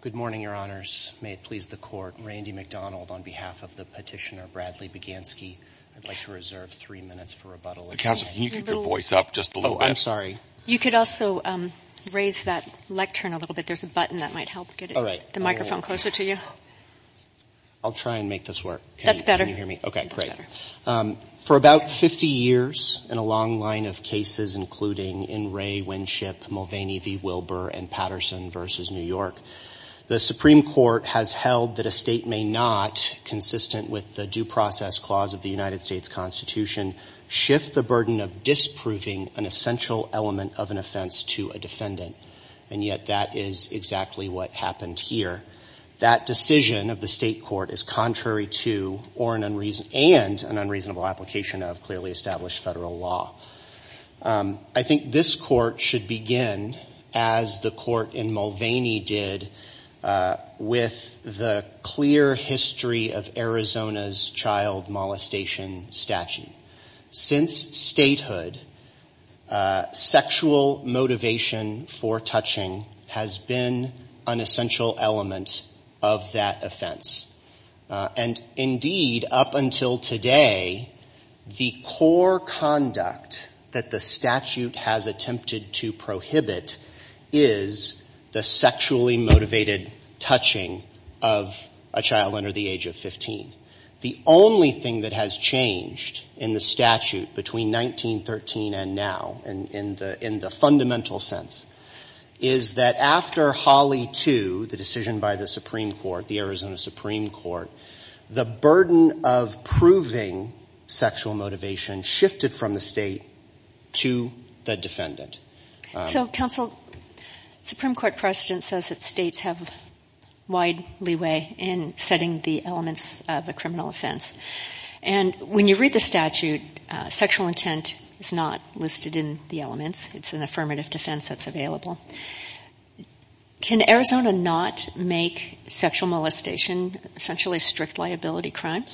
Good morning, Your Honors. May it please the Court, Randy McDonald on behalf of the petitioner Bradley Bieganski. I'd like to reserve three minutes for rebuttal. Counsel, can you keep your voice up just a little bit? Oh, I'm sorry. You could also raise that lectern a little bit. There's a button that might help get the microphone closer to you. I'll try and make this work. That's better. Can you hear me? Okay, great. For about 50 years, in a long line of cases, including In Re, Winship, Mulvaney v. Wilbur, and Patterson v. New York, the Supreme Court has held that a state may not, consistent with the Due Process Clause of the United States Constitution, shift the burden of disproving an essential element of an offense to a defendant, and yet that is exactly what happened here. That decision of the state court is contrary to, and an unreasonable application of, clearly established federal law. I think this court should begin, as the court in Mulvaney did, with the clear history of Arizona's child molestation statute. Since statehood, sexual motivation for touching has been an essential element of that offense. And indeed, up until today, the core conduct that the statute has attempted to prohibit is the sexually motivated touching of a child under the age of 15. The only thing that has changed in the statute between 1913 and now, in the fundamental sense, is that after Holly 2, the decision by the Supreme Court, the Arizona Supreme Court, the burden of proving sexual motivation shifted from the state to the defendant. So, counsel, Supreme Court precedent says that states have wide leeway in setting the elements of a criminal offense. And when you read the statute, sexual intent is not listed in the elements. It's an affirmative defense that's available. Can Arizona not make sexual molestation essentially a strict liability crime?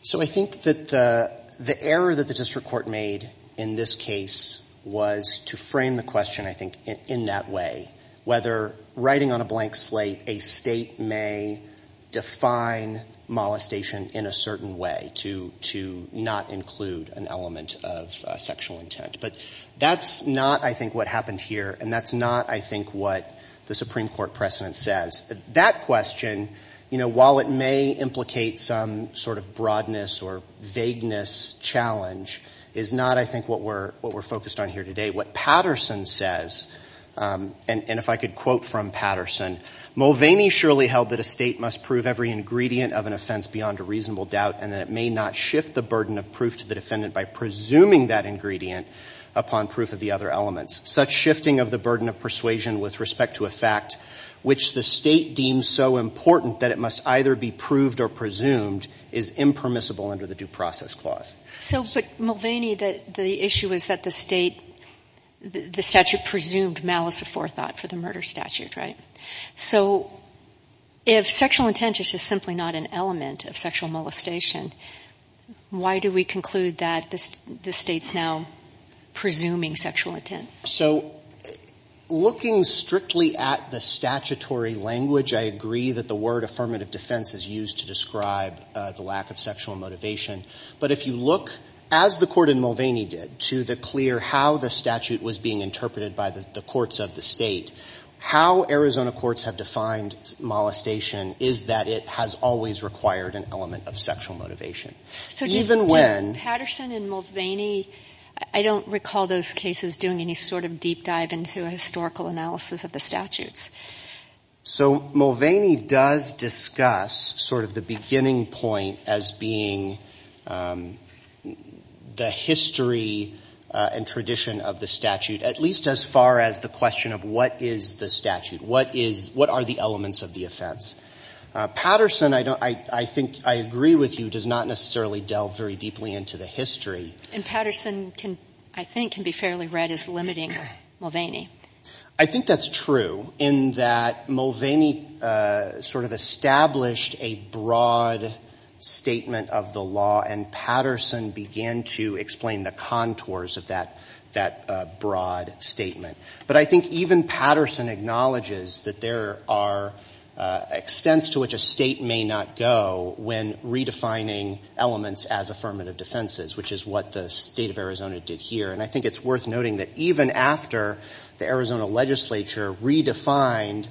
So I think that the error that the district court made in this case was to frame the question, I think, in that way, whether writing on a blank slate, a state may define molestation in a certain way to not include an element of sexual intent. But that's not, I think, what happened here. And that's not, I think, what the Supreme Court precedent says. That question, while it may implicate some sort of broadness or vagueness challenge, is not, I think, what we're focused on here today. What Patterson says, and if I could quote from Patterson, Mulvaney surely held that a state must prove every ingredient of an offense beyond a reasonable doubt and that it may not shift the burden of proof to the defendant by presuming that ingredient upon proof of the other elements. Such shifting of the burden of persuasion with respect to a fact which the state deems so important that it must either be proved or presumed is impermissible under the Due Process Clause. So, Mulvaney, the issue is that the state, the statute presumed malice aforethought for the murder statute, right? So, if sexual intent is just simply not an element of sexual molestation, why do we conclude that the state's now presuming sexual intent? So, looking strictly at the statutory language, I agree that the word affirmative defense is used to describe the lack of sexual motivation. But if you look, as the Court in Mulvaney did, to the clear how the statute was being interpreted by the courts of the state, how Arizona courts have defined molestation is that it has always required an element of sexual motivation. So, even when — So, do Patterson and Mulvaney — I don't recall those cases doing any sort of deep dive into a historical analysis of the statutes. So Mulvaney does discuss sort of the beginning point as being the history and tradition of the statute, at least as far as the question of what is the statute? What is — what are the elements of the offense? Patterson, I think, I agree with you, does not necessarily delve very deeply into the history. And Patterson can — I think can be fairly read as limiting Mulvaney. I think that's true, in that Mulvaney sort of established a broad statement of the statute. But I think even Patterson acknowledges that there are extents to which a state may not go when redefining elements as affirmative defenses, which is what the state of Arizona did here. And I think it's worth noting that even after the Arizona legislature redefined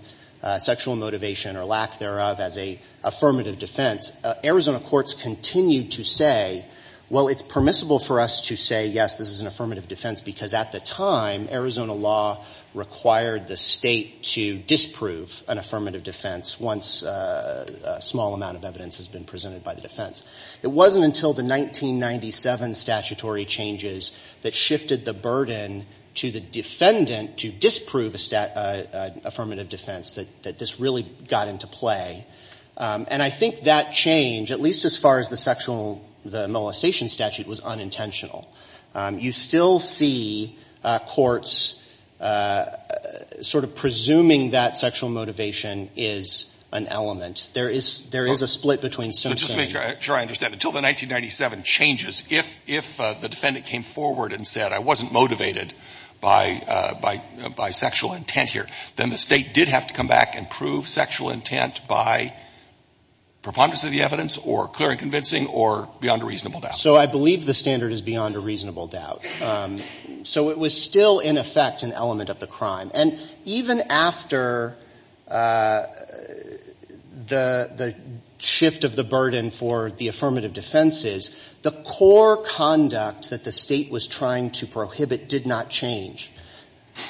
sexual motivation or lack thereof as a affirmative defense, Arizona courts continued to say, well, it's permissible for us to say, yes, this is an affirmative defense, because at the time, Arizona law required the state to disprove an affirmative defense once a small amount of evidence has been presented by the defense. It wasn't until the 1997 statutory changes that shifted the burden to the defendant to disprove a affirmative defense that this really got into play. And I think that change, at least as far as the sexual — the molestation statute was unintentional. You still see courts sort of presuming that sexual motivation is an element. There is — there is a split between some — But just to make sure I understand, until the 1997 changes, if the defendant came forward and said, I wasn't motivated by sexual intent here, then the state did have to come back and prove sexual intent by preponderance of the evidence or clear and convincing or beyond a reasonable doubt. So I believe the standard is beyond a reasonable doubt. So it was still, in effect, an element of the crime. And even after the shift of the burden for the affirmative defenses, the core conduct that the state was trying to prohibit did not change.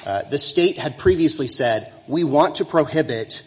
The state had previously said, we want to prohibit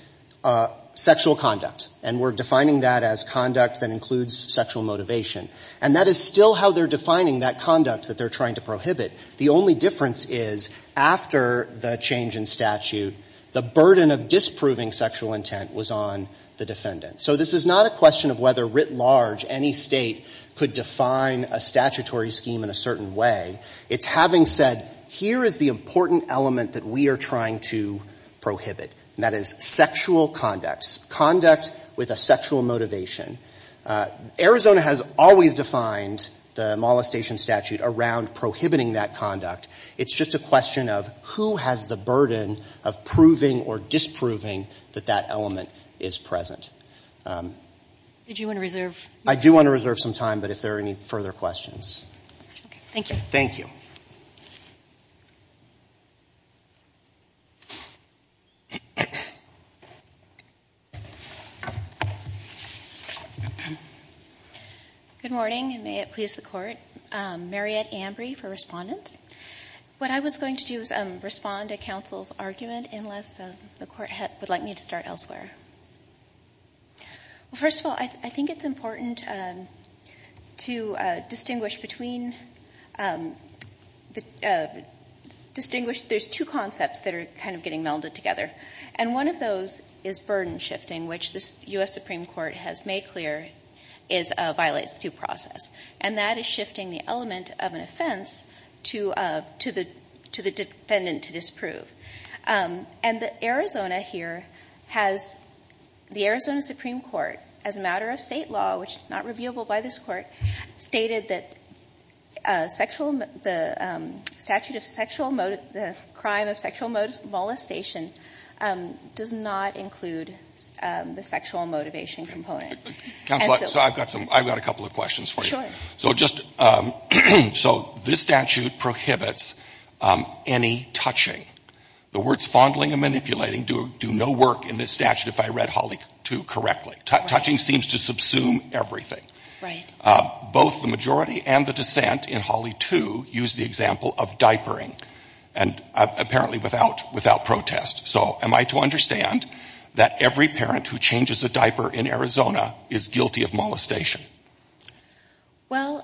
sexual conduct, and we're defining that as conduct that includes sexual motivation. And that is still how they're defining that conduct that they're trying to prohibit. The only difference is, after the change in statute, the burden of disproving sexual intent was on the defendant. So this is not a question of whether, writ large, any state could define a statutory scheme in a certain way. It's having said, here is the important element that we are trying to prohibit, and that is sexual conduct. Conduct with a sexual motivation. Arizona has always defined the molestation statute around prohibiting that conduct. It's just a question of who has the burden of proving or disproving that that element is present. Do you want to reserve? I do want to reserve some time, but if there are any further questions. Thank you. Thank you. Good morning. May it please the Court. Mariette Ambrey for Respondents. What I was going to do is respond to counsel's argument, unless the Court would like me to start elsewhere. Well, first of all, I think it's important to distinguish between the two concepts that are kind of getting melded together. And one of those is burden shifting, which the U.S. Supreme Court has made clear violates due process. And that is shifting the element of an offense to the defendant to disprove. And Arizona here has, the Arizona Supreme Court, as a matter of state law, which is not reviewable by this Court, stated that sexual, the statute of sexual, the crime of sexual molestation does not include the sexual motivation component. Counsel, I've got some, I've got a couple of questions for you. So just, so this statute prohibits any touching. The words fondling and manipulating do no work in this statute, if I read Holley 2 correctly. Touching seems to subsume everything. Right. Both the majority and the dissent in Holley 2 use the example of diapering, and apparently without, without protest. So am I to understand that every parent who changes a diaper in Arizona is guilty of molestation? Well...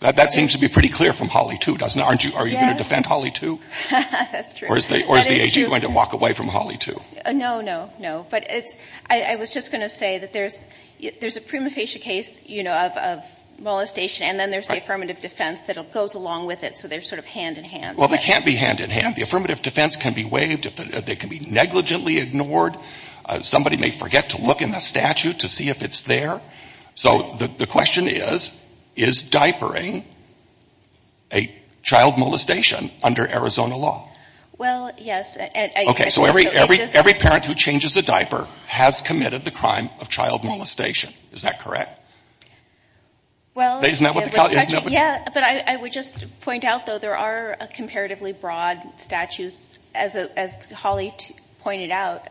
That seems to be pretty clear from Holley 2, doesn't it? Aren't you, are you going to defend Holley 2? That's true. Or is the AG going to walk away from Holley 2? No, no, no. But it's, I was just going to say that there's, there's a prima facie case, you know, of, of molestation, and then there's the affirmative defense that goes along with it. So they're sort of hand in hand. Well, they can't be hand in hand. The affirmative defense can be waived. They can be negligently ignored. Somebody may forget to look in the statute to see if it's there. So the question is, is diapering a child molestation under Arizona law? Well, yes. Okay. So every, every parent who changes a diaper has committed the crime of child molestation. Is that correct? Well... Isn't that what the... Yeah, but I, I would just point out, though, there are comparatively broad statutes, as, as Holley pointed out,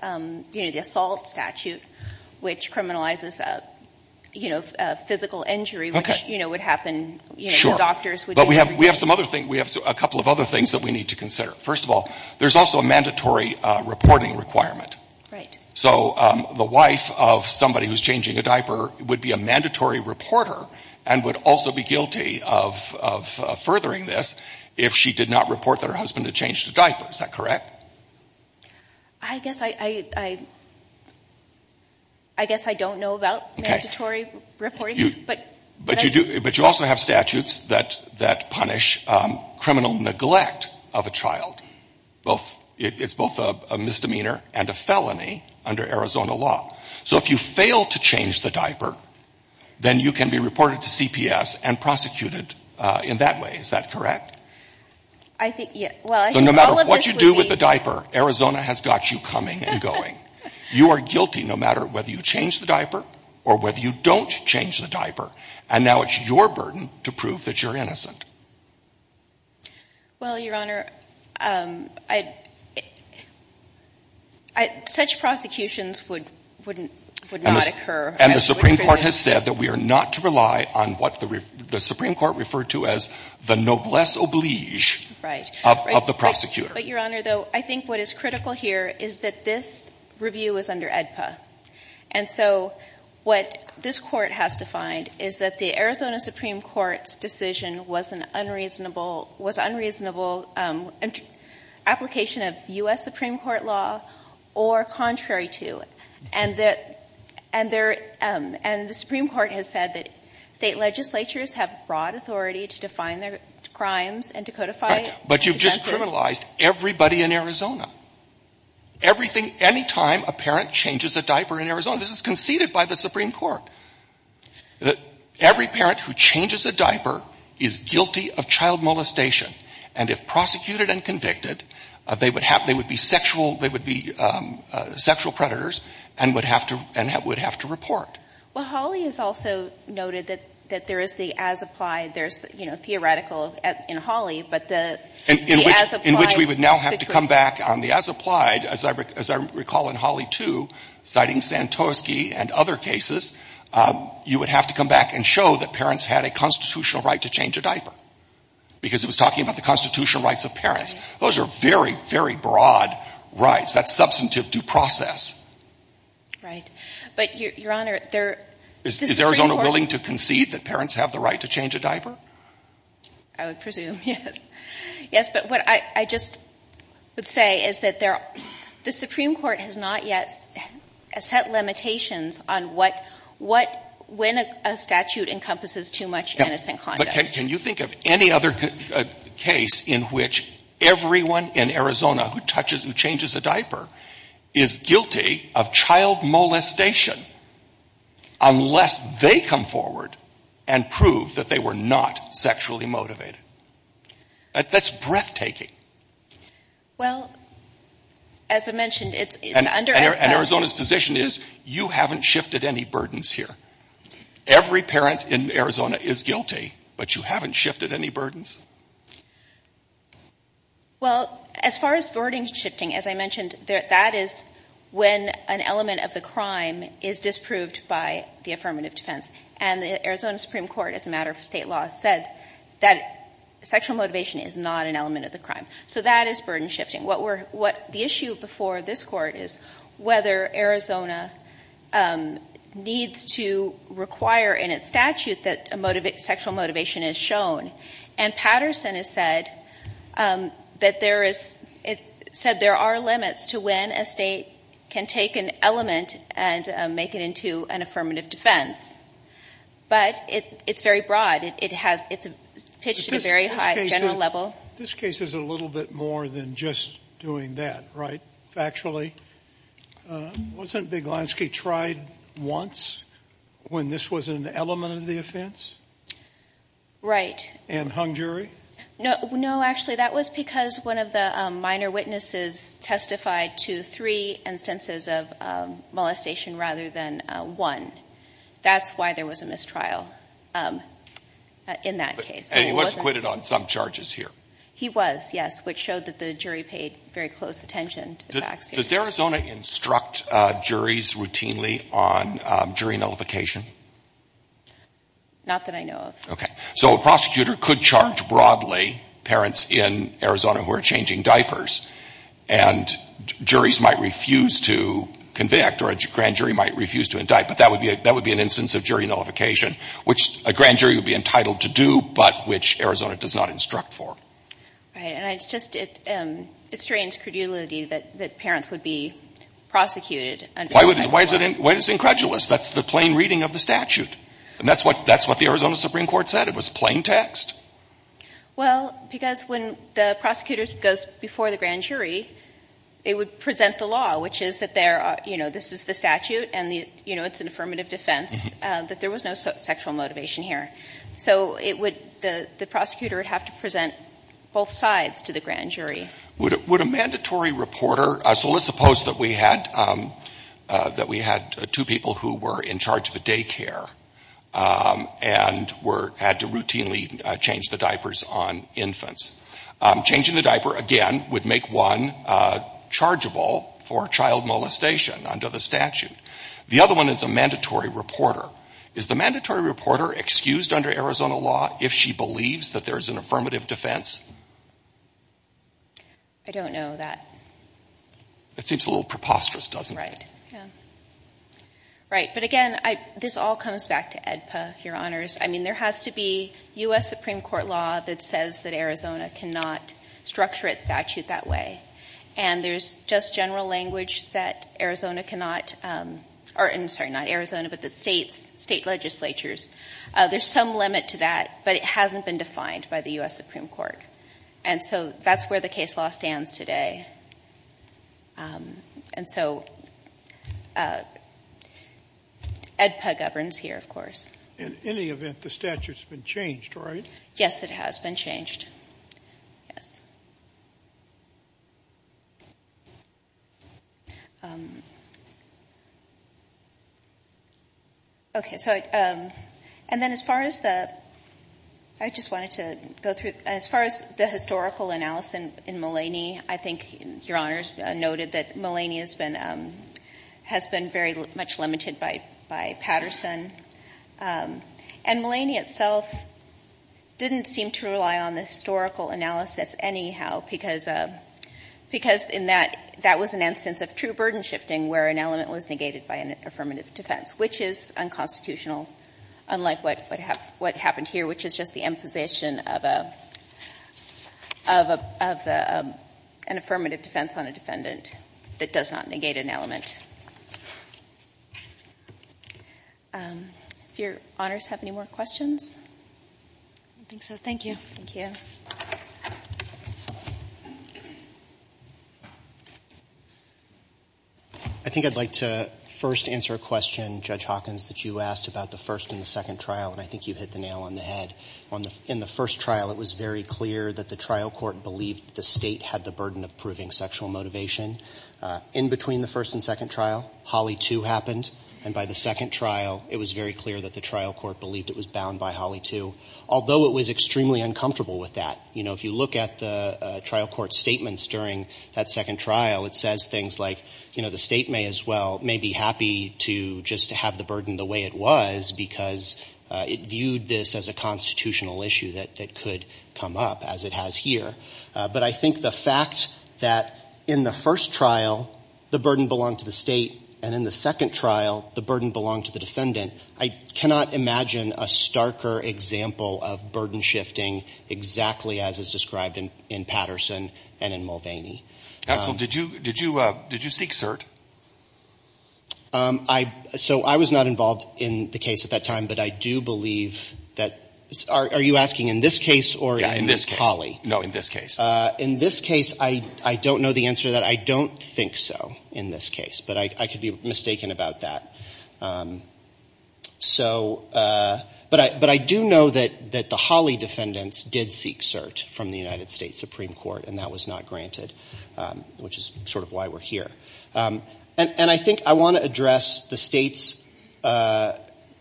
you know, the assault statute, which criminalizes, you know, physical injury, which, you know, would happen, you know, doctors would... Sure. But we have, we have some other things, we have a couple of other things that we need to consider. First of all, there's also a mandatory reporting requirement. Right. So the wife of somebody who's changing a diaper would be a mandatory reporter and would also be guilty of, of furthering this if she did not report that her husband had changed a diaper. Is that correct? I guess I, I, I, I guess I don't know about mandatory reporting, but... But you do, but you also have statutes that, that punish criminal neglect of a person under Arizona law. So if you fail to change the diaper, then you can be reported to CPS and prosecuted in that way. Is that correct? I think, yeah, well... So no matter what you do with the diaper, Arizona has got you coming and going. You are guilty no matter whether you change the diaper or whether you don't change the diaper. And now it's your burden to prove that you're innocent. Well, Your Honor, I, I, such prosecutions would, wouldn't, would not occur. And the Supreme Court has said that we are not to rely on what the, the Supreme Court referred to as the noblesse oblige of the prosecutor. But Your Honor, though, I think what is critical here is that this review is under AEDPA. And so what this court has defined is that the Arizona Supreme Court's decision was an unreasonable, was an unreasonable application of U.S. Supreme Court law or contrary to. And that, and there, and the Supreme Court has said that state legislatures have broad authority to define their crimes and to codify injustice. Right. But you've just criminalized everybody in Arizona. Everything, any time a parent changes a diaper in Arizona, this is conceded by the Supreme Court. Every parent who changes a diaper is guilty of child molestation. And if prosecuted and convicted, they would have, they would be sexual, they would be sexual predators and would have to, and would have to report. Well, Hawley has also noted that, that there is the as-applied, there's, you know, theoretical in Hawley, but the, the as-applied. In which, in which we would now have to come back on the as-applied, as I recall in Hawley 2, citing Santorski and other cases, you would have to come back and show that parents had a constitutional right to change a diaper. Because it was talking about the constitutional rights of parents. Those are very, very broad rights. That's substantive due process. Right. But Your Honor, there, the Supreme Court. Is Arizona willing to concede that parents have the right to change a diaper? I would presume, yes. Yes, but what I, I just would say is that there, the Supreme Court has not yet set limitations on what, what, when a statute encompasses too much innocent conduct. But can you think of any other case in which everyone in Arizona who touches, who changes a diaper, is guilty of child molestation unless they come forward and prove that they were not sexually motivated? That's breathtaking. Well, as I mentioned, it's under. And Arizona's position is, you haven't shifted any burdens here. Every parent in Arizona is guilty, but you haven't shifted any burdens. Well, as far as burden shifting, as I mentioned, that is when an element of the crime is disproved by the affirmative defense. And the Arizona Supreme Court, as a matter of state law, said that sexual motivation is not an element of the crime. So that is burden shifting. What we're, what the issue before this Court is whether Arizona needs to require in its statute that a sexual motivation is shown. And Patterson has said that there is, said there are limits to when a state can take an element and make it into an affirmative defense. But it's very broad. It has, it's pitched at a very high general level. This case is a little bit more than just doing that, right, factually? Wasn't Beglanski tried once when this was an element of the offense? Right. And hung jury? No. No, actually, that was because one of the minor witnesses testified to three instances of molestation rather than one. That's why there was a mistrial in that case. And he was acquitted on some charges here? He was, yes, which showed that the jury paid very close attention to the facts. Does Arizona instruct juries routinely on jury nullification? Not that I know of. Okay. So a prosecutor could charge broadly parents in Arizona who are changing diapers, and juries might refuse to convict or a grand jury might refuse to indict. But that would be an instance of jury nullification, which a grand jury would be entitled to do, but which Arizona does not instruct for. Right. And it's just a strange credulity that parents would be prosecuted under that law. Why is it incredulous? That's the plain reading of the statute. And that's what the Arizona Supreme Court said. It was plain text. Well, because when the prosecutor goes before the grand jury, it would present the law, which is that there are, you know, this is the statute and, you know, it's an affirmative defense, that there was no sexual motivation here. So it would, the prosecutor would have to present both sides to the grand jury. Would a mandatory reporter, so let's suppose that we had, that we had two people who were in charge of the daycare and were, had to routinely change the diapers on infants. Changing the diaper, again, would make one chargeable for child molestation under the statute. The other one is a mandatory reporter. Is the mandatory reporter excused under Arizona law if she believes that there is an affirmative defense? I don't know that. It seems a little preposterous, doesn't it? Right. Right. But again, this all comes back to AEDPA, Your Honors. I mean, there has to be U.S. Supreme Court law that says that Arizona cannot structure its statute that way. And there's just general language that Arizona cannot, or, I'm sorry, not Arizona, but the states, state legislatures. There's some limit to that, but it hasn't been defined by the U.S. Supreme Court. And so that's where the case law stands today. And so AEDPA governs here, of course. In any event, the statute's been changed, right? Yes, it has been changed. Yes. Okay. So, and then as far as the, I just wanted to go through, as far as the historical analysis in Mulaney, I think Your Honors noted that Mulaney has been very much limited by Patterson. And Mulaney itself didn't seem to rely on the historical analysis anyhow, because in that, that was an instance of true burden shifting where an element was negated by an affirmative defense, which is unconstitutional, unlike what happened here, which is just the imposition of a, of a, of a, an affirmative defense on a defendant that does not negate an element. If Your Honors have any more questions? I don't think so. Thank you. I think I'd like to first answer a question, Judge Hawkins, that you asked about the first and the second trial, and I think you hit the nail on the head. In the first trial, it was very clear that the trial court believed that the State had the burden of proving sexual motivation. In between the first and second trial, Holly 2 happened, and by the second trial, it was very clear that the trial court believed it was bound by Holly 2, although it was extremely uncomfortable with that. You know, if you look at the trial court's statements during that second trial, it says things like, you know, the State may as well, may be happy to just have the because it viewed this as a constitutional issue that could come up, as it has here. But I think the fact that in the first trial, the burden belonged to the State, and in the second trial, the burden belonged to the defendant, I cannot imagine a starker example of burden shifting exactly as is described in Patterson and in Mulvaney. Counsel, did you, did you, did you seek cert? I, so I was not involved in the case at that time, but I do believe that, are you asking in this case or in this Holly? Yeah, in this case. No, in this case. In this case, I don't know the answer to that. I don't think so in this case, but I could be mistaken about that. So, but I do know that the Holly defendants did seek cert from the United States Supreme Court, and that was not granted, which is sort of why we're here. And I think I want to address the State's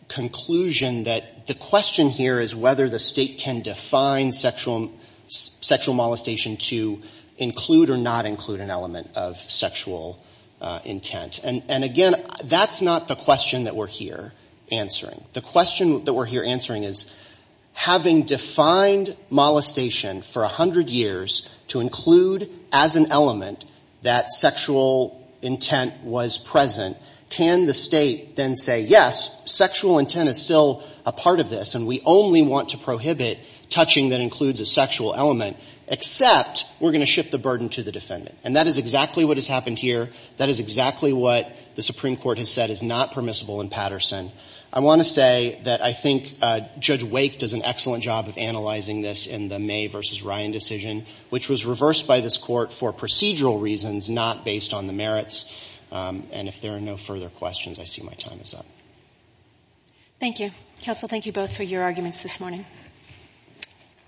conclusion that the question here is whether the State can define sexual molestation to include or not include an element of sexual intent. And again, that's not the question that we're here answering. The question that we're here answering is, having defined molestation for 100 years to include as an element that sexual intent was present, can the State then say, yes, sexual intent is still a part of this, and we only want to prohibit touching that includes a sexual element, except we're going to shift the burden to the defendant. And that is exactly what has happened here. That is exactly what the Supreme Court has said is not permissible in Patterson. I want to say that I think Judge Wake does an excellent job of analyzing this in the May v. Ryan decision, which was reversed by this Court for procedural reasons, not based on the merits. And if there are no further questions, I see my time is up. Thank you. Counsel, thank you both for your arguments this morning.